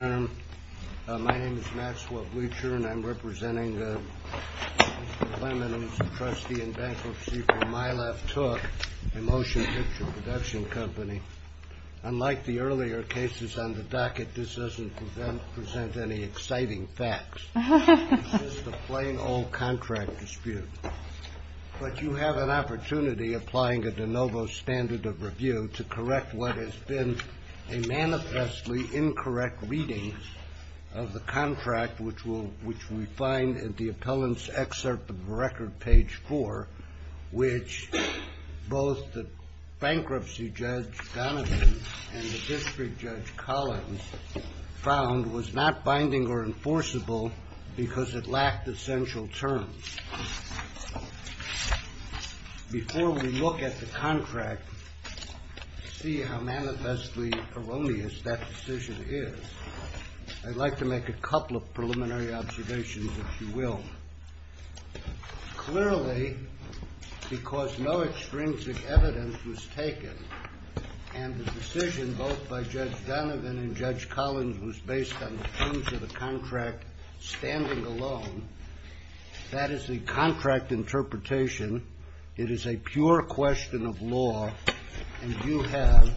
My name is Maxwell Bleacher and I'm representing Mr. Clement, who is a trustee in bankruptcy for My Left Took, a motion picture production company. Unlike the earlier cases on the docket, this doesn't present any exciting facts. It's just a plain old contract dispute. But you have an opportunity, applying a de novo standard of review, to correct what has been a manifestly incorrect reading of the contract, which we find in the appellant's excerpt of record page 4, which both the bankruptcy judge, Donovan, and the district judge, Collins, found was not binding or enforceable because it lacked essential terms. Before we look at the contract, see how manifestly erroneous that decision is, I'd like to make a couple of preliminary observations, if you will. Clearly, because no extrinsic evidence was taken, and the decision both by Judge Donovan and Judge Collins was based on the contract standing alone, that is the contract interpretation. It is a pure question of law, and you have,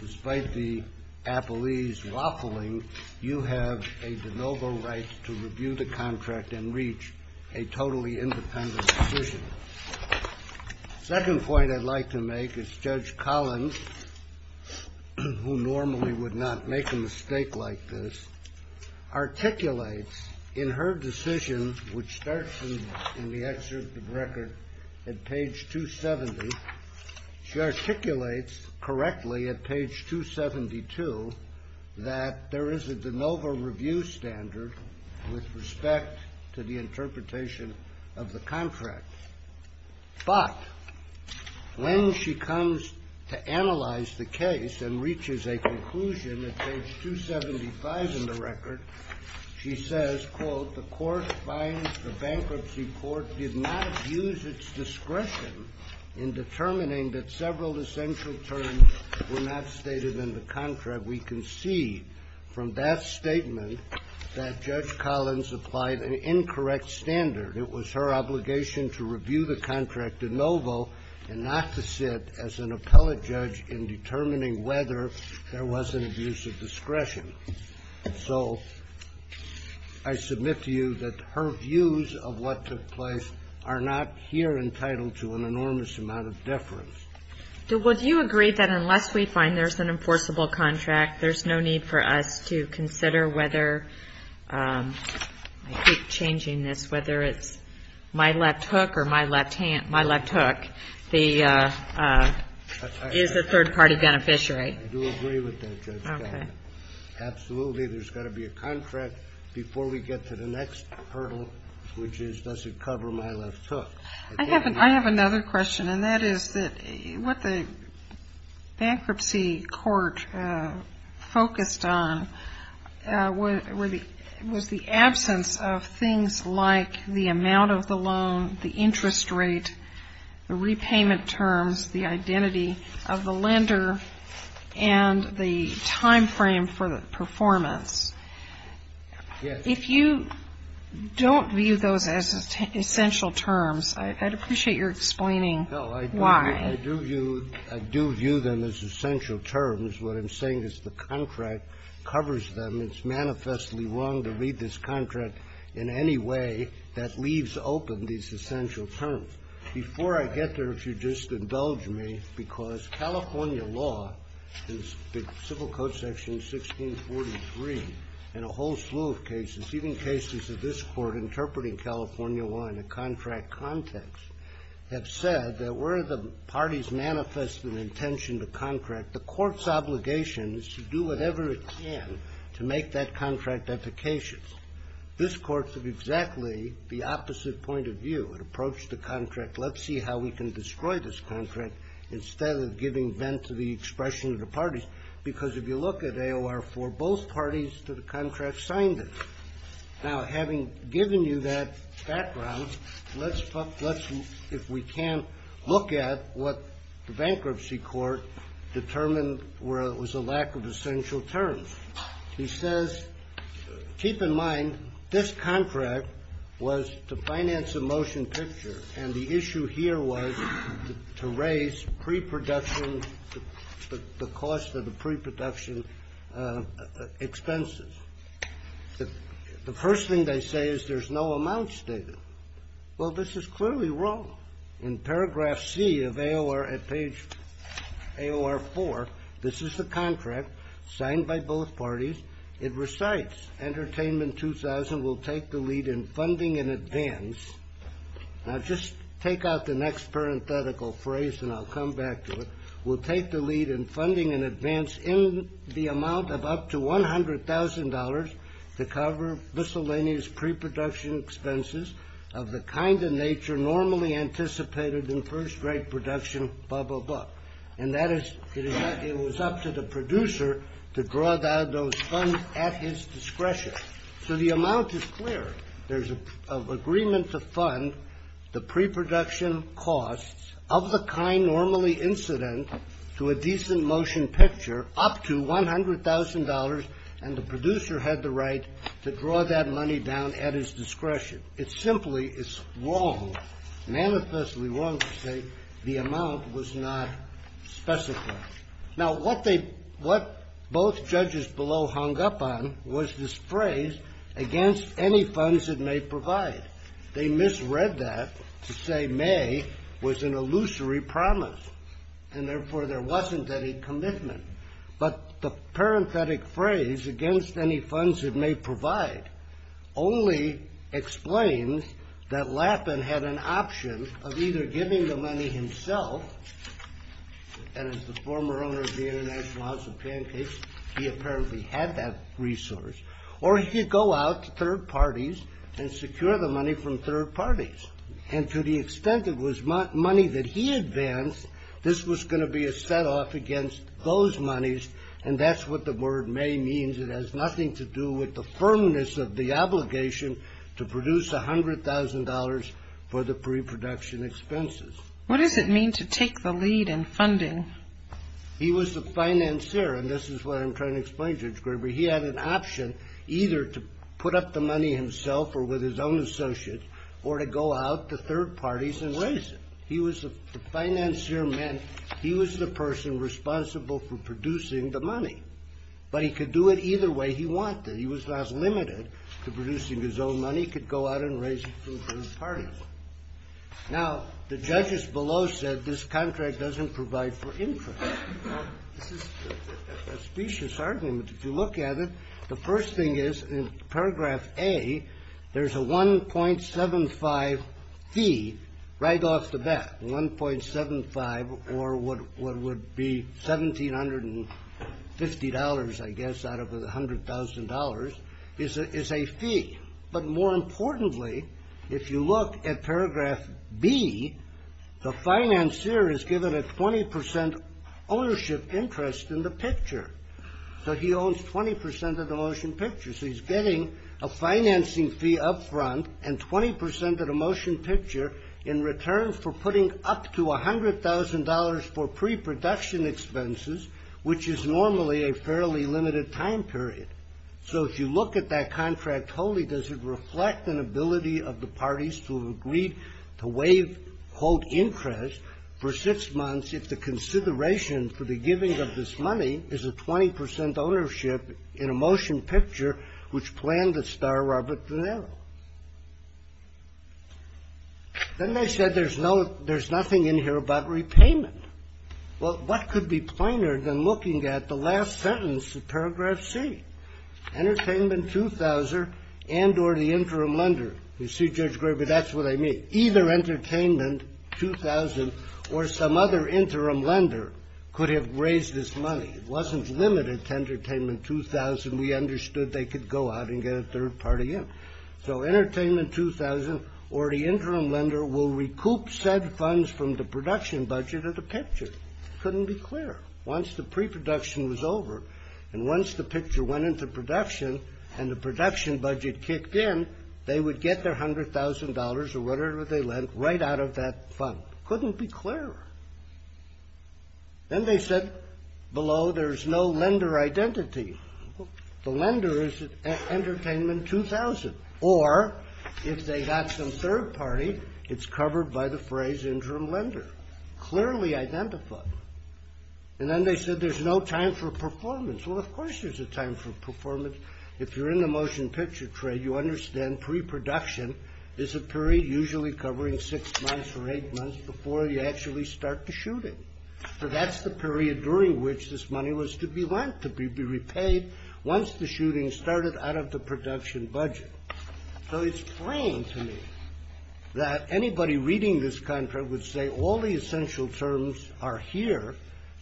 despite the appellee's waffling, you have a de novo right to review the contract and reach a totally independent decision. The second point I'd like to make is Judge Collins, who normally would not make a mistake like this, articulates in her decision, which starts in the excerpt of record at page 270, she articulates correctly at page 272 that there is a de novo review standard with respect to the interpretation of the contract. But when she comes to analyze the case and reaches a conclusion at page 275 in the record, she says, quote, the court finds the bankruptcy court did not use its discretion in determining that several essential terms were not stated in the contract. We concede from that statement that Judge Collins applied an incorrect standard. It was her obligation to review the contract de novo and not to sit as an appellate judge in determining whether there was an abuse of discretion. So I submit to you that her views of what took place are not here entitled to an enormous amount of deference. Would you agree that unless we find there's an enforceable contract, there's no need for us to consider whether, I keep changing this, whether it's my left hook or my left hand, my left hook is a third-party beneficiary? I do agree with that, Judge. Okay. Absolutely, there's got to be a contract before we get to the next hurdle, which is does it cover my left hook? I have another question, and that is that what the bankruptcy court focused on was the absence of things like the amount of the loan, the interest rate, the repayment terms, the identity of the lender, and the time frame for the performance. Yes. If you don't view those as essential terms, I'd appreciate your explaining why. No, I do view them as essential terms. What I'm saying is the contract covers them. It's manifestly wrong to read this contract in any way that leaves open these essential terms. Before I get there, if you'll just indulge me, because California law, the Civil Code Section 1643, and a whole slew of cases, even cases of this Court interpreting California law in a contract context, have said that where the parties manifest an intention to contract, the Court's obligation is to do whatever it can to make that contract efficacious. This Court took exactly the opposite point of view and approached the contract, let's see how we can destroy this contract instead of giving vent to the expression of the parties. Because if you look at AOR-4, both parties to the contract signed it. Now, having given you that background, let's, if we can, look at what the bankruptcy court determined was a lack of essential terms. He says, keep in mind this contract was to finance a motion picture, and the issue here was to raise pre-production, the cost of the pre-production expenses. The first thing they say is there's no amount stated. Well, this is clearly wrong. In paragraph C of AOR at page AOR-4, this is the contract signed by both parties. It recites, Entertainment 2000 will take the lead in funding in advance. Now, just take out the next parenthetical phrase and I'll come back to it. Will take the lead in funding in advance in the amount of up to $100,000 to cover miscellaneous pre-production expenses of the kind of nature normally anticipated in first-rate production, blah, blah, blah. And that is, it was up to the producer to draw down those funds at his discretion. So the amount is clear. There's an agreement to fund the pre-production costs of the kind normally incident to a decent motion picture up to $100,000, and the producer had the right to draw that money down at his discretion. It simply is wrong, manifestly wrong to say the amount was not specified. Now, what both judges below hung up on was this phrase, against any funds it may provide. They misread that to say may was an illusory promise, and therefore there wasn't any commitment. But the parenthetic phrase, against any funds it may provide, only explains that Lappin had an option of either giving the money himself, and as the former owner of the International House of Pancakes, he apparently had that resource, or he could go out to third parties and secure the money from third parties. And to the extent it was money that he advanced, this was going to be a set-off against those monies, and that's what the word may means. It has nothing to do with the firmness of the obligation to produce $100,000 for the pre-production expenses. What does it mean to take the lead in funding? He was the financier, and this is what I'm trying to explain, Judge Graber. He had an option either to put up the money himself or with his own associates, or to go out to third parties and raise it. But he could do it either way he wanted. He was not limited to producing his own money. He could go out and raise it from third parties. Now, the judges below said this contract doesn't provide for interest. This is a specious argument. If you look at it, the first thing is, in paragraph A, there's a 1.75 fee right off the bat, or what would be $1,750, I guess, out of the $100,000 is a fee. But more importantly, if you look at paragraph B, the financier is given a 20% ownership interest in the picture. So he owns 20% of the motion picture. So he's getting a financing fee up front and 20% of the motion picture in return for putting up to $100,000 for pre-production expenses, which is normally a fairly limited time period. So if you look at that contract wholly, does it reflect an ability of the parties to have agreed to waive, quote, interest for six months if the consideration for the giving of this money is a 20% ownership in a motion picture, which planned the star Robert De Niro? Then they said there's nothing in here about repayment. Well, what could be plainer than looking at the last sentence of paragraph C, entertainment 2,000 and or the interim lender? You see, Judge Graber, that's what I mean. Either entertainment 2,000 or some other interim lender could have raised this money. It wasn't limited to entertainment 2,000. We understood they could go out and get a third party in. So entertainment 2,000 or the interim lender will recoup said funds from the production budget of the picture. Couldn't be clearer. Once the pre-production was over and once the picture went into production and the production budget kicked in, they would get their $100,000 or whatever they lent right out of that fund. Couldn't be clearer. Then they said below there's no lender identity. The lender is entertainment 2,000. Or if they got some third party, it's covered by the phrase interim lender. Clearly identified. And then they said there's no time for performance. Well, of course there's a time for performance. If you're in the motion picture trade, you understand pre-production is a period usually covering six months or eight months before you actually start the shooting. So that's the period during which this money was to be lent, to be repaid once the shooting started out of the production budget. So it's plain to me that anybody reading this contract would say all the essential terms are here.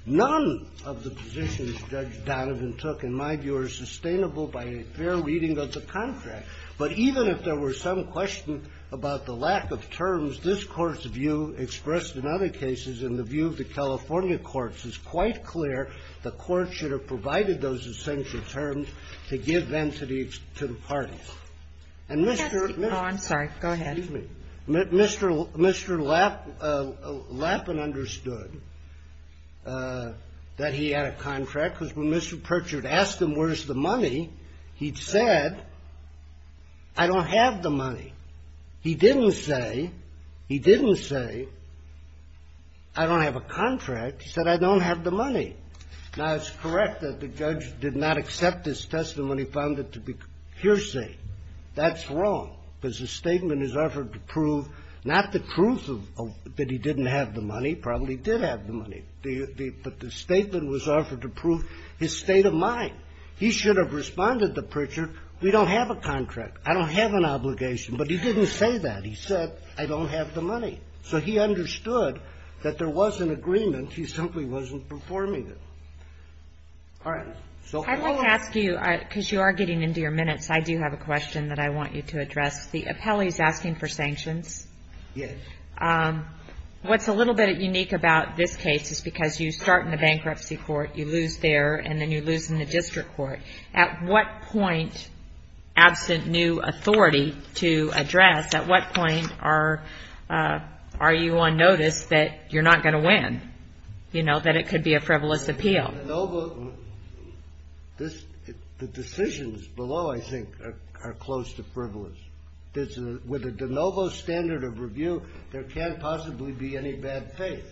None of the positions Judge Donovan took, in my view, are sustainable by a fair reading of the contract. But even if there were some question about the lack of terms, this Court's view expressed in other cases, in the view of the California courts, is quite clear the Court should have provided those essential terms to give them to the parties. And Mr. Lappin understood that he had a contract because when Mr. Pritchard asked him where's the money, he'd said, I don't have the money. He didn't say, he didn't say, I don't have a contract. He said, I don't have the money. Now, it's correct that the judge did not accept his testimony, found it to be hearsay. That's wrong because the statement is offered to prove not the truth that he didn't have the money, probably he did have the money. But the statement was offered to prove his state of mind. He should have responded to Pritchard, we don't have a contract. I don't have an obligation. But he didn't say that. He said, I don't have the money. So he understood that there was an agreement. He simply wasn't performing it. All right. So go on. I'd like to ask you, because you are getting into your minutes, I do have a question that I want you to address. The appellee is asking for sanctions. Yes. What's a little bit unique about this case is because you start in the bankruptcy court, you lose there, and then you lose in the district court. At what point, absent new authority to address, at what point are you on notice that you're not going to win, you know, that it could be a frivolous appeal? The decisions below, I think, are close to frivolous. With a de novo standard of review, there can't possibly be any bad faith.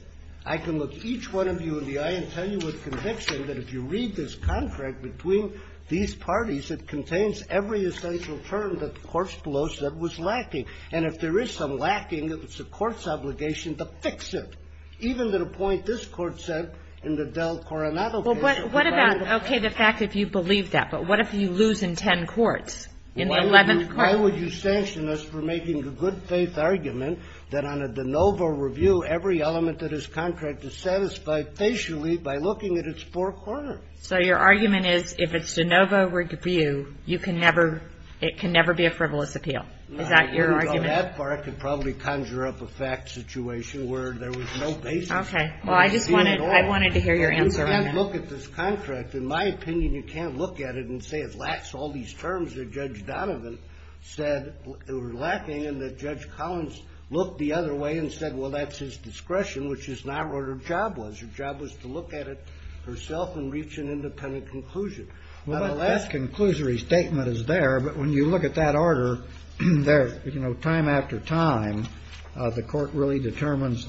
I can look each one of you in the eye and tell you with conviction that if you read this contract between these parties, it contains every essential term that the courts below said was lacking. And if there is some lacking, it's the court's obligation to fix it, even to the point this court said in the Del Coronado case. Well, what about, okay, the fact that you believe that, but what if you lose in ten courts, in the 11th court? Why would you sanction us for making the good-faith argument that on a de novo review, every element of this contract is satisfied facially by looking at its four corners? So your argument is if it's de novo review, you can never, it can never be a frivolous appeal? No. I couldn't go that far. I could probably conjure up a fact situation where there was no basis. Okay. Well, I just wanted, I wanted to hear your answer on that. You can't look at this contract. In my opinion, you can't look at it and say it lacks all these terms that Judge Donovan said were lacking and that Judge Collins looked the other way and said, well, that's his discretion, which is not what her job was. Her job was to look at it herself and reach an independent conclusion. Well, the last conclusory statement is there, but when you look at that order, there, you know, time after time, the Court really determines that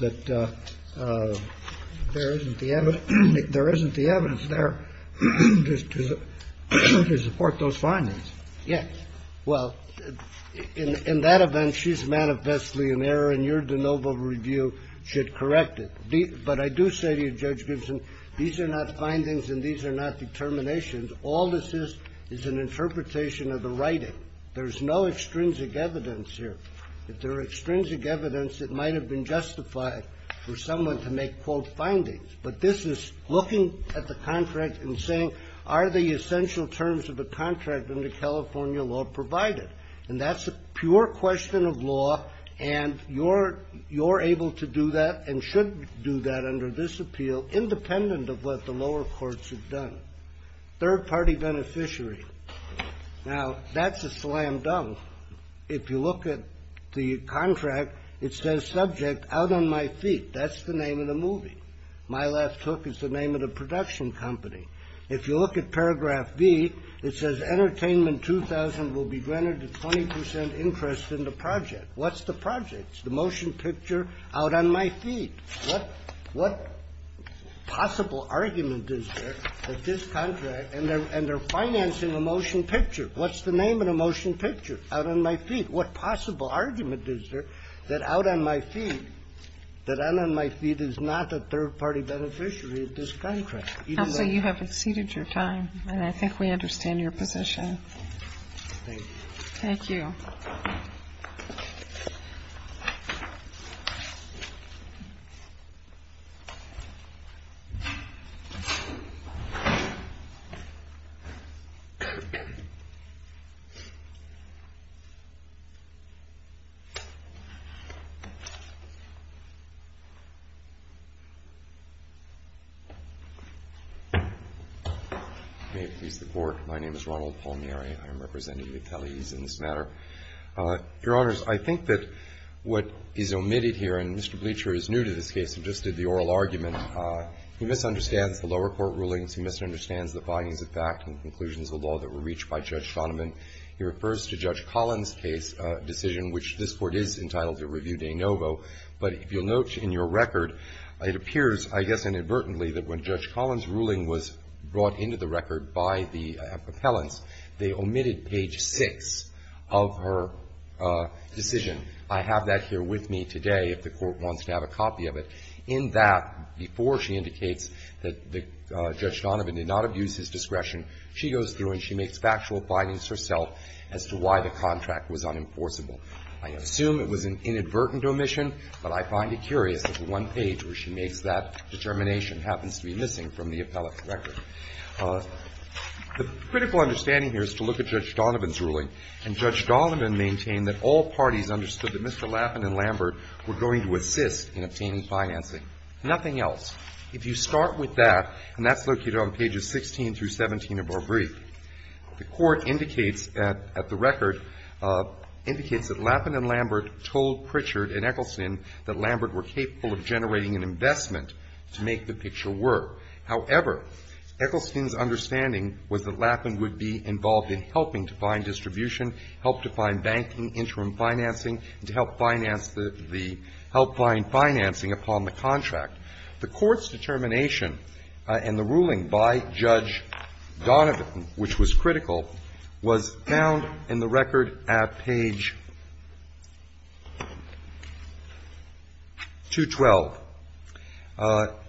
there isn't the evidence there to support those findings. Yes. Well, in that event, she's manifestly in error and your de novo review should correct it. But I do say to you, Judge Gibson, these are not findings and these are not determinations. All this is is an interpretation of the writing. There's no extrinsic evidence here. If there were extrinsic evidence, it might have been justified for someone to make, quote, findings. But this is looking at the contract and saying, are the essential terms of the contract in the California law provided? And that's a pure question of law, and you're able to do that and should do that under this appeal, independent of what the lower courts have done. Third-party beneficiary. Now, that's a slam dunk. If you look at the contract, it says subject out on my feet. That's the name of the movie. My Last Hook is the name of the production company. If you look at paragraph B, it says Entertainment 2000 will be granted a 20 percent interest in the project. What's the project? It's the motion picture out on my feet. What possible argument is there that this contract, and they're financing a motion picture. What's the name of the motion picture? Out on my feet. What possible argument is there that out on my feet, that out on my feet is not a third-party beneficiary of this contract? Even though you have exceeded your time. And I think we understand your position. Thank you. May it please the Court. My name is Ronald Palmieri. I am representing the attellees in this matter. Your Honors, I think that what is omitted here, and Mr. Bleacher is new to this case and just did the oral argument. He misunderstands the lower court rulings. He misunderstands the findings of fact and conclusions of law that were reached by Judge Shoneman. He refers to Judge Collins' case decision, which this Court is entitled to review de novo. But if you'll note in your record, it appears, I guess inadvertently, that when Judge Shoneman made the omitted page 6 of her decision, I have that here with me today if the Court wants to have a copy of it. In that, before she indicates that Judge Shoneman did not abuse his discretion, she goes through and she makes factual findings herself as to why the contract was unenforceable. I assume it was an inadvertent omission, but I find it curious that the one page where she makes that determination happens to be missing from the appellate's record. The critical understanding here is to look at Judge Donovan's ruling. And Judge Donovan maintained that all parties understood that Mr. Lappin and Lambert were going to assist in obtaining financing. Nothing else. If you start with that, and that's located on pages 16 through 17 of our brief, the Court indicates at the record, indicates that Lappin and Lambert told Pritchard and Eccleston that Lambert were capable of generating an investment to make the picture However, Eccleston's understanding was that Lappin would be involved in helping to find distribution, help to find banking, interim financing, and to help finance the the help find financing upon the contract. The Court's determination and the ruling by Judge Donovan, which was critical, was found in the record at page 212.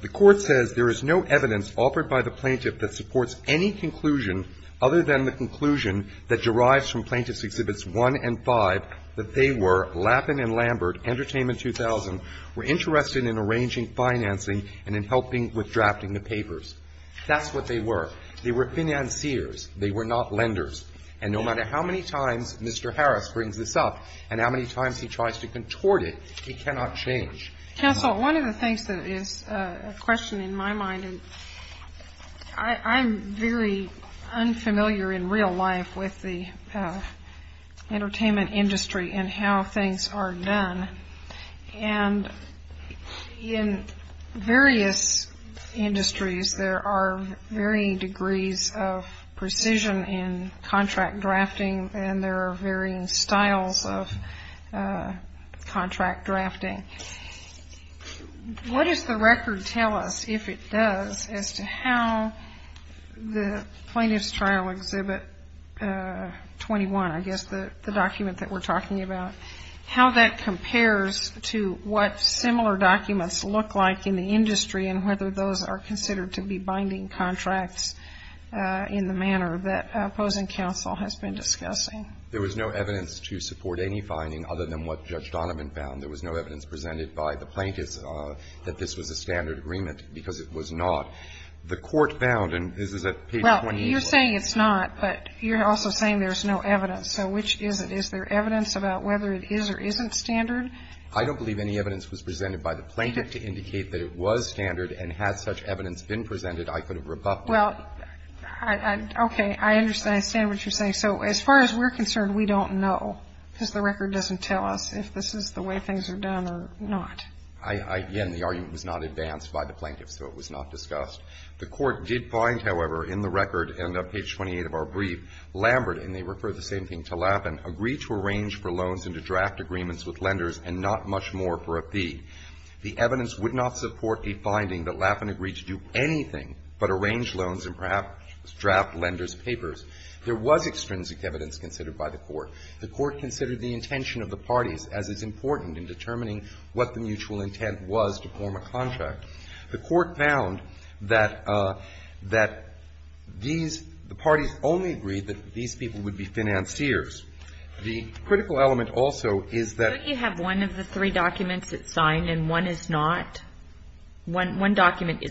The Court says there is no evidence offered by the plaintiff that supports any conclusion other than the conclusion that derives from Plaintiffs' Exhibits 1 and 5 that they were, Lappin and Lambert, Entertainment 2000, were interested in arranging financing and in helping with drafting the papers. That's what they were. They were financiers. They were not lenders. And no matter how many times Mr. Harris brings this up and how many times he tries to contort it, it cannot change. Counsel, one of the things that is a question in my mind, I'm very unfamiliar in real life with the entertainment industry and how things are done. And in various industries, there are varying degrees of precision in contract drafting and there are varying styles of contract drafting. What does the record tell us, if it does, as to how the Plaintiffs' Trial Exhibit 21, I guess the document that we're talking about, how that compares to what similar documents look like in the industry and whether those are considered to be binding contracts in the manner that the opposing counsel has been discussing? There was no evidence to support any finding other than what Judge Donovan found. There was no evidence presented by the plaintiffs that this was a standard agreement because it was not. The court found, and this is at page 21. Well, you're saying it's not, but you're also saying there's no evidence. So which is it? Is there evidence about whether it is or isn't standard? I don't believe any evidence was presented by the plaintiff to indicate that it was standard and had such evidence been presented, I could have rebuffed it. Well, okay. I understand what you're saying. So as far as we're concerned, we don't know because the record doesn't tell us if this is the way things are done or not. Again, the argument was not advanced by the plaintiffs, so it was not discussed. The court did find, however, in the record and on page 28 of our brief, Lambert and they refer the same thing to Laffin, agreed to arrange for loans and to draft agreements with lenders and not much more for a fee. The evidence would not support the finding that Laffin agreed to do anything but arrange loans and perhaps draft lenders' papers. There was extrinsic evidence considered by the court. The court considered the intention of the parties as is important in determining what the mutual intent was to form a contract. The court found that these, the parties only agreed that these people would be financiers. The critical element also is that you have one of the three documents that signed and one is not, one document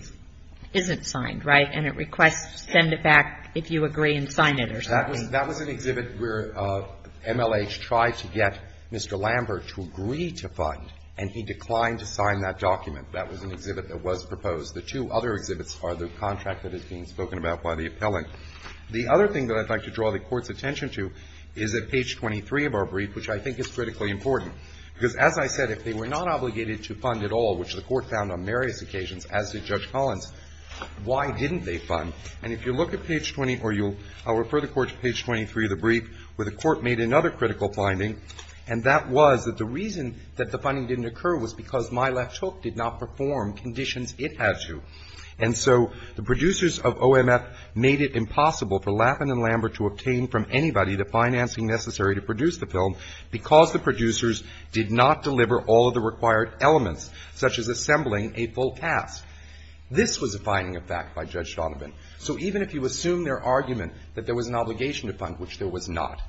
isn't signed, right, and it requests send it back if you agree and sign it or something. That was an exhibit where MLH tried to get Mr. Lambert to agree to fund and he declined to sign that document. That was an exhibit that was proposed. The two other exhibits are the contract that is being spoken about by the appellant. The other thing that I'd like to draw the Court's attention to is at page 23 of our brief, which I think is critically important, because as I said, if they were not obligated to fund at all, which the Court found on various occasions, as did Judge Collins, why didn't they fund? And if you look at page 20 or you'll, I'll refer the Court to page 23 of the brief where the Court made another critical finding, and that was that the reason that the funding didn't occur was because My Left Hook did not perform conditions it had to. And so the producers of OMF made it impossible for Lappin and Lambert to obtain from anybody the financing necessary to produce the film because the producers did not deliver all of the required elements, such as assembling a full cast. This was a finding of fact by Judge Donovan. So even if you assume their argument that there was an obligation to fund, which there was not,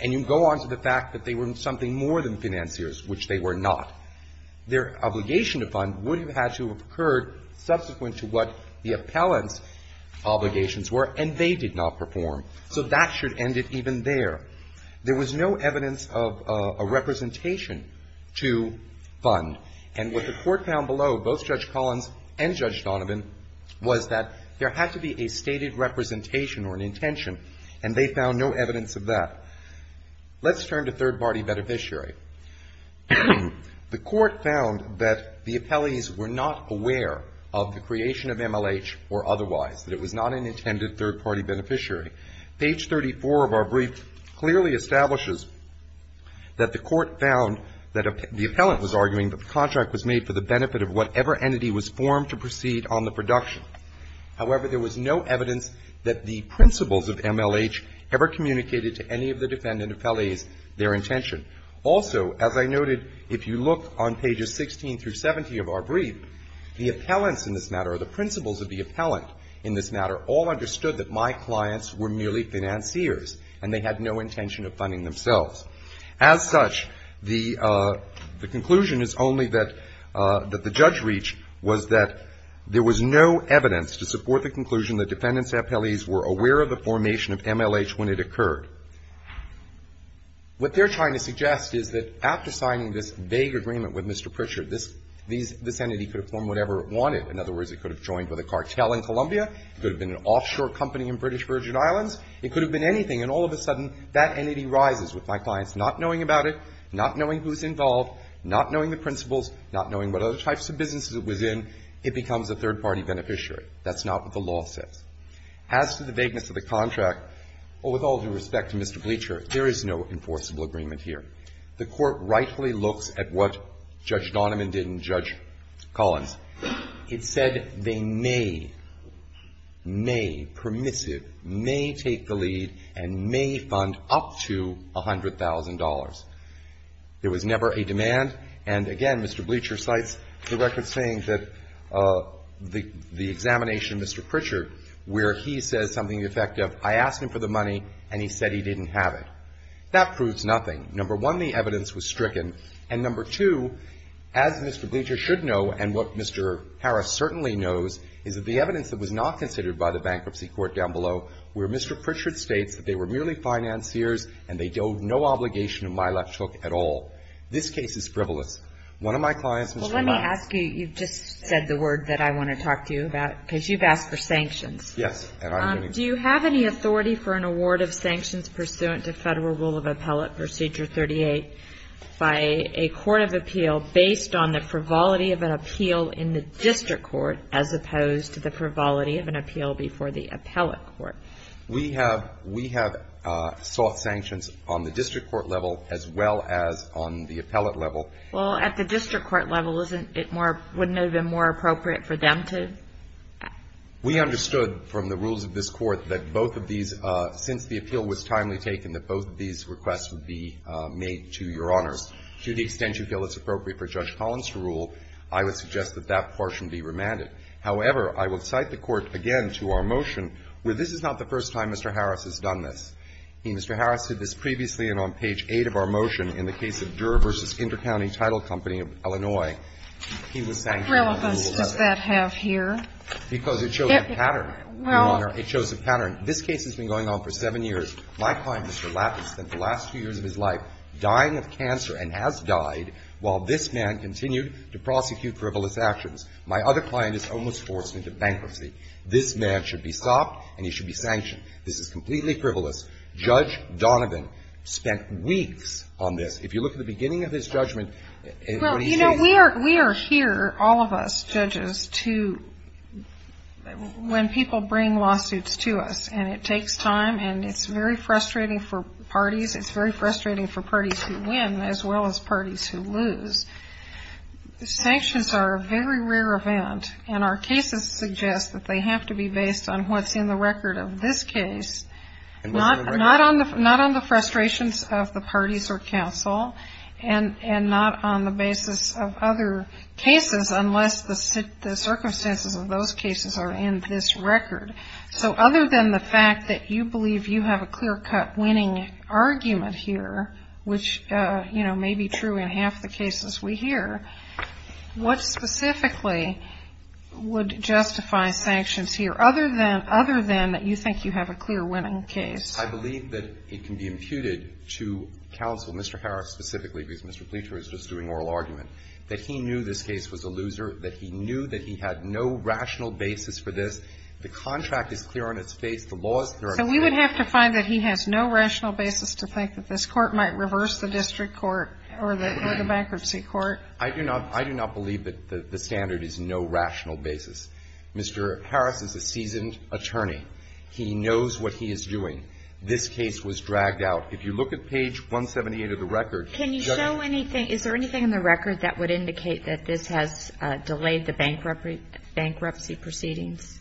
and you go on to the fact that they were something more than financiers, which they were not, their obligation to fund would have had to have occurred subsequent to what the appellant's obligations were, and they did not perform. So that should end it even there. There was no evidence of a representation to fund. And what the Court found below, both Judge Collins and Judge Donovan, was that there had to be a stated representation or an intention, and they found no evidence of that. Let's turn to third-party beneficiary. The Court found that the appellees were not aware of the creation of MLH or otherwise, that it was not an intended third-party beneficiary. Page 34 of our brief clearly establishes that the Court found that the appellant was arguing that the contract was made for the benefit of whatever entity was formed to proceed on the production. However, there was no evidence that the principles of MLH ever communicated to any of the defendant appellees their intention. Also, as I noted, if you look on pages 16 through 17 of our brief, the appellants in this matter or the principles of the appellant in this matter all understood that my clients were merely financiers, and they had no intention of funding themselves. As such, the conclusion is only that the judge reached was that there was no evidence to support the conclusion that defendant appellees were aware of the formation of MLH when it occurred. What they're trying to suggest is that after signing this vague agreement with Mr. Pritchard, this entity could have formed whatever it wanted. In other words, it could have joined with a cartel in Columbia. It could have been an offshore company in British Virgin Islands. It could have been anything. And all of a sudden, that entity rises with my clients not knowing about it, not knowing who's involved, not knowing the principles, not knowing what other types of businesses it was in. It becomes a third-party beneficiary. That's not what the law says. As to the vagueness of the contract, well, with all due respect to Mr. Bleacher, there is no enforceable agreement here. The Court rightfully looks at what Judge Donovan did and Judge Collins. It said they may, may, permissive, may take the lead and may fund up to $100,000. There was never a demand. And again, Mr. Bleacher cites the record saying that the examination of Mr. Pritchard where he says something effective, I asked him for the stricken. And number two, as Mr. Bleacher should know and what Mr. Harris certainly knows, is that the evidence that was not considered by the Bankruptcy Court down below, where Mr. Pritchard states that they were merely financiers and they owed no obligation of mileage hook at all. This case is frivolous. One of my clients, Mr. Miles. Well, let me ask you, you've just said the word that I want to talk to you about because you've asked for sanctions. Yes. Do you have any authority for an award of sanctions pursuant to Federal Rule of Appellate Procedure 38 by a court of appeal based on the frivolity of an appeal in the district court as opposed to the frivolity of an appeal before the appellate court? We have, we have sought sanctions on the district court level as well as on the appellate level. Well, at the district court level, isn't it more, wouldn't it have been more appropriate for them to? We understood from the rules of this Court that both of these, since the appeal was timely taken, that both of these requests would be made to Your Honors. To the extent you feel it's appropriate for Judge Collins' rule, I would suggest that that portion be remanded. However, I would cite the Court again to our motion where this is not the first time Mr. Harris has done this. Mr. Harris did this previously and on page 8 of our motion in the case of Durer v. Intercounty Title Company of Illinois, he was sanctioned. So what relevance does that have here? Because it shows a pattern, Your Honor. It shows a pattern. This case has been going on for seven years. My client, Mr. Lappin, spent the last two years of his life dying of cancer and has died while this man continued to prosecute frivolous actions. My other client is almost forced into bankruptcy. This man should be stopped and he should be sanctioned. This is completely frivolous. Judge Donovan spent weeks on this. If you look at the beginning of his judgment and what he says. Well, you know, we are here, all of us judges, to when people bring lawsuits to us and it takes time and it's very frustrating for parties. It's very frustrating for parties who win as well as parties who lose. Sanctions are a very rare event and our cases suggest that they have to be based on what's in the record of this case, not on the frustrations of the parties or counsel, and not on the basis of other cases unless the circumstances of those cases are in this record. So other than the fact that you believe you have a clear-cut winning argument here, which may be true in half the cases we hear, what specifically would justify sanctions here? Other than, other than that you think you have a clear winning case. I believe that it can be imputed to counsel, Mr. Harris specifically, because Mr. Pletcher is just doing oral argument, that he knew this case was a loser, that he knew that he had no rational basis for this. The contract is clear on its face. The law is clear on its face. So we would have to find that he has no rational basis to think that this Court might reverse the district court or the bankruptcy court? I do not. I do not believe that the standard is no rational basis. Mr. Harris is a seasoned attorney. He knows what he is doing. This case was dragged out. If you look at page 178 of the record, Judge Ottoman. Can you show anything? Is there anything in the record that would indicate that this has delayed the bankruptcy proceedings?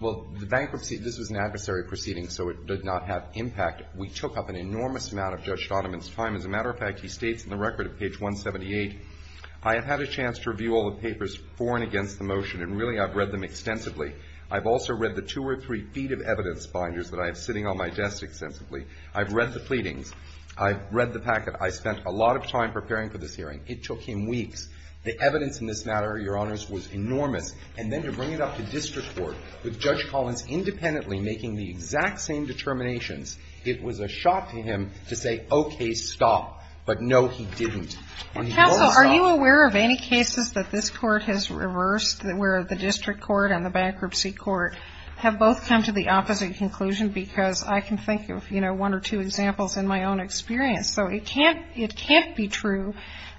Well, the bankruptcy, this was an adversary proceeding, so it did not have impact. We took up an enormous amount of Judge Ottoman's time. As a matter of fact, he states in the record at page 178, I have had a chance to review all the papers for and against the motion, and really I've read them extensively. I've also read the two or three feet of evidence binders that I have sitting on my desk extensively. I've read the pleadings. I've read the packet. I spent a lot of time preparing for this hearing. It took him weeks. The evidence in this matter, Your Honors, was enormous. And then to bring it up to district court with Judge Collins independently making the exact same determinations, it was a shock to him to say, okay, stop. But no, he didn't. Counsel, are you aware of any cases that this Court has reversed where the district court and the bankruptcy court have both come to the opposite conclusion? Because I can think of, you know, one or two examples in my own experience. So it can't be true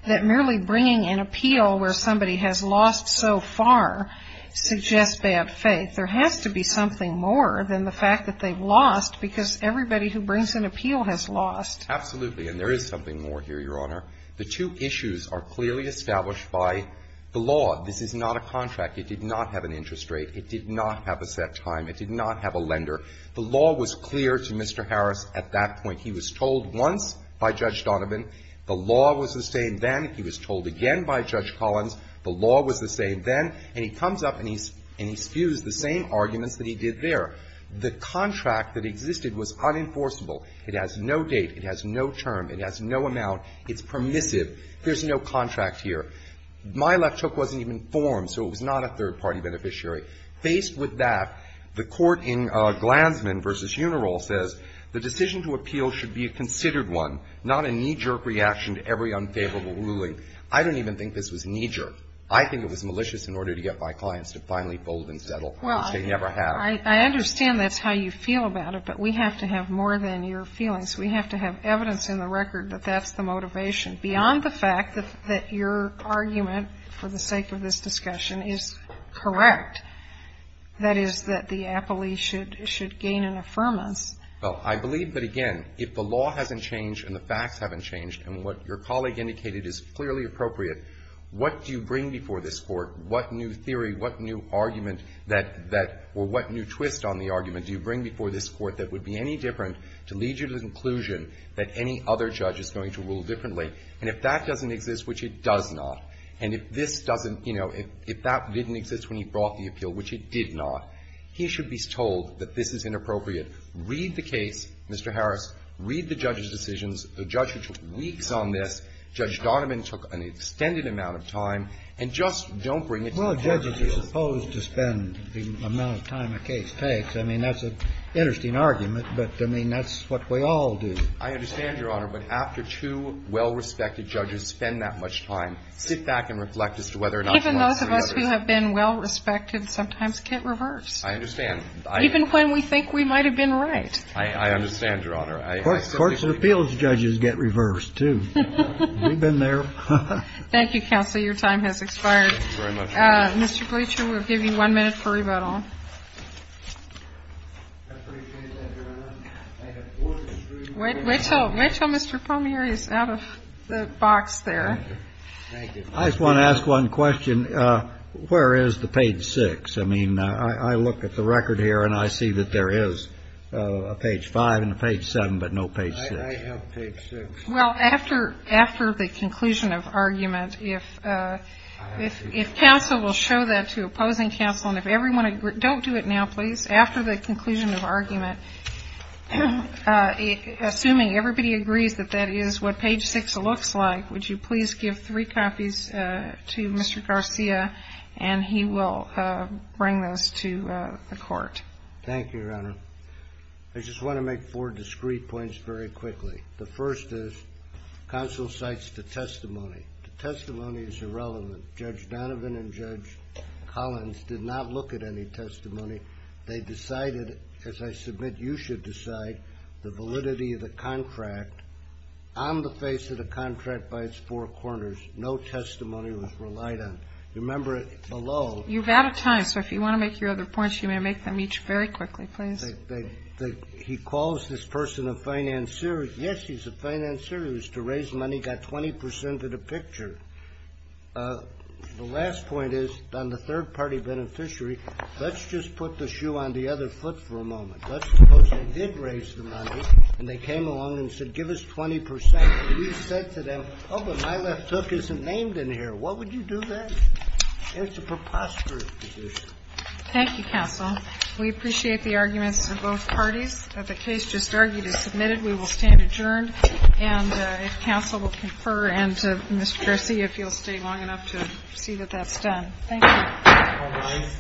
that merely bringing an appeal where somebody has lost so far suggests bad faith. There has to be something more than the fact that they've lost because everybody who brings an appeal has lost. Absolutely. And there is something more here, Your Honor. The two issues are clearly established by the law. This is not a contract. It did not have an interest rate. It did not have a set time. It did not have a lender. The law was clear to Mr. Harris at that point. He was told once by Judge Donovan. The law was the same then. He was told again by Judge Collins. The law was the same then. And he comes up and he spews the same arguments that he did there. The contract that existed was unenforceable. It has no date. It has no term. It has no amount. It's permissive. There's no contract here. My left hook wasn't even formed, so it was not a third-party beneficiary. Faced with that, the court in Glansman v. Unirol says the decision to appeal should be a considered one, not a knee-jerk reaction to every unfavorable ruling. I don't even think this was knee-jerk. I think it was malicious in order to get my clients to finally fold and settle, which they never have. Well, I understand that's how you feel about it, but we have to have more than your feelings. We have to have evidence in the record that that's the motivation. Beyond the fact that your argument for the sake of this discussion is correct, that is, that the appellee should gain an affirmance. Well, I believe that, again, if the law hasn't changed and the facts haven't changed and what your colleague indicated is clearly appropriate, what do you bring before this Court? What new theory, what new argument that or what new twist on the argument do you bring before this Court that would be any different to lead you to the conclusion that any other judge is going to rule differently? And if that doesn't exist, which it does not, and if this doesn't, you know, if that didn't exist when he brought the appeal, which it did not, he should be told that this is inappropriate. Read the case, Mr. Harris. Read the judge's decisions. The judge who took weeks on this, Judge Donovan, took an extended amount of time. And just don't bring it to the court. Well, judges are supposed to spend the amount of time a case takes. I mean, that's an interesting argument. But, I mean, that's what we all do. I understand, Your Honor. But after two well-respected judges spend that much time, sit back and reflect as to whether or not you want to see others. Even those of us who have been well-respected sometimes get reversed. I understand. Even when we think we might have been right. I understand, Your Honor. Courts and appeals judges get reversed, too. We've been there. Thank you, Counselor. Your time has expired. Thank you very much, Your Honor. Mr. Bleacher, we'll give you one minute for rebuttal. I appreciate that, Your Honor. I have four minutes for rebuttal. Wait until Mr. Palmieri is out of the box there. Thank you. I just want to ask one question. Where is the page 6? I mean, I look at the record here, and I see that there is a page 5 and a page 7, but no page 6. I have page 6. Well, after the conclusion of argument, if counsel will show that to opposing counsel, and if everyone agrees, don't do it now, please. After the conclusion of argument, assuming everybody agrees that that is what page 6 looks like, would you please give three copies to Mr. Garcia, and he will bring those to the Court. Thank you, Your Honor. I just want to make four discrete points very quickly. The first is counsel cites the testimony. The testimony is irrelevant. Judge Donovan and Judge Collins did not look at any testimony. They decided, as I submit you should decide, the validity of the contract. On the face of the contract by its four corners, no testimony was relied on. Remember it below. You've out of time, so if you want to make your other points, you may make them each very quickly, please. He calls this person a financier. Yes, he's a financier. He was to raise money, got 20 percent of the picture. The last point is, on the third-party beneficiary, let's just put the shoe on the other foot for a moment. Let's suppose they did raise the money, and they came along and said, give us 20 percent. You said to them, oh, but my left hook isn't named in here. What would you do then? It's a preposterous position. Thank you, counsel. We appreciate the arguments of both parties. The case just argued is submitted. We will stand adjourned. And if counsel will confer, and to Mr. Garcia, if you'll stay long enough to see that that's done. Thank you. All rise. Thank you.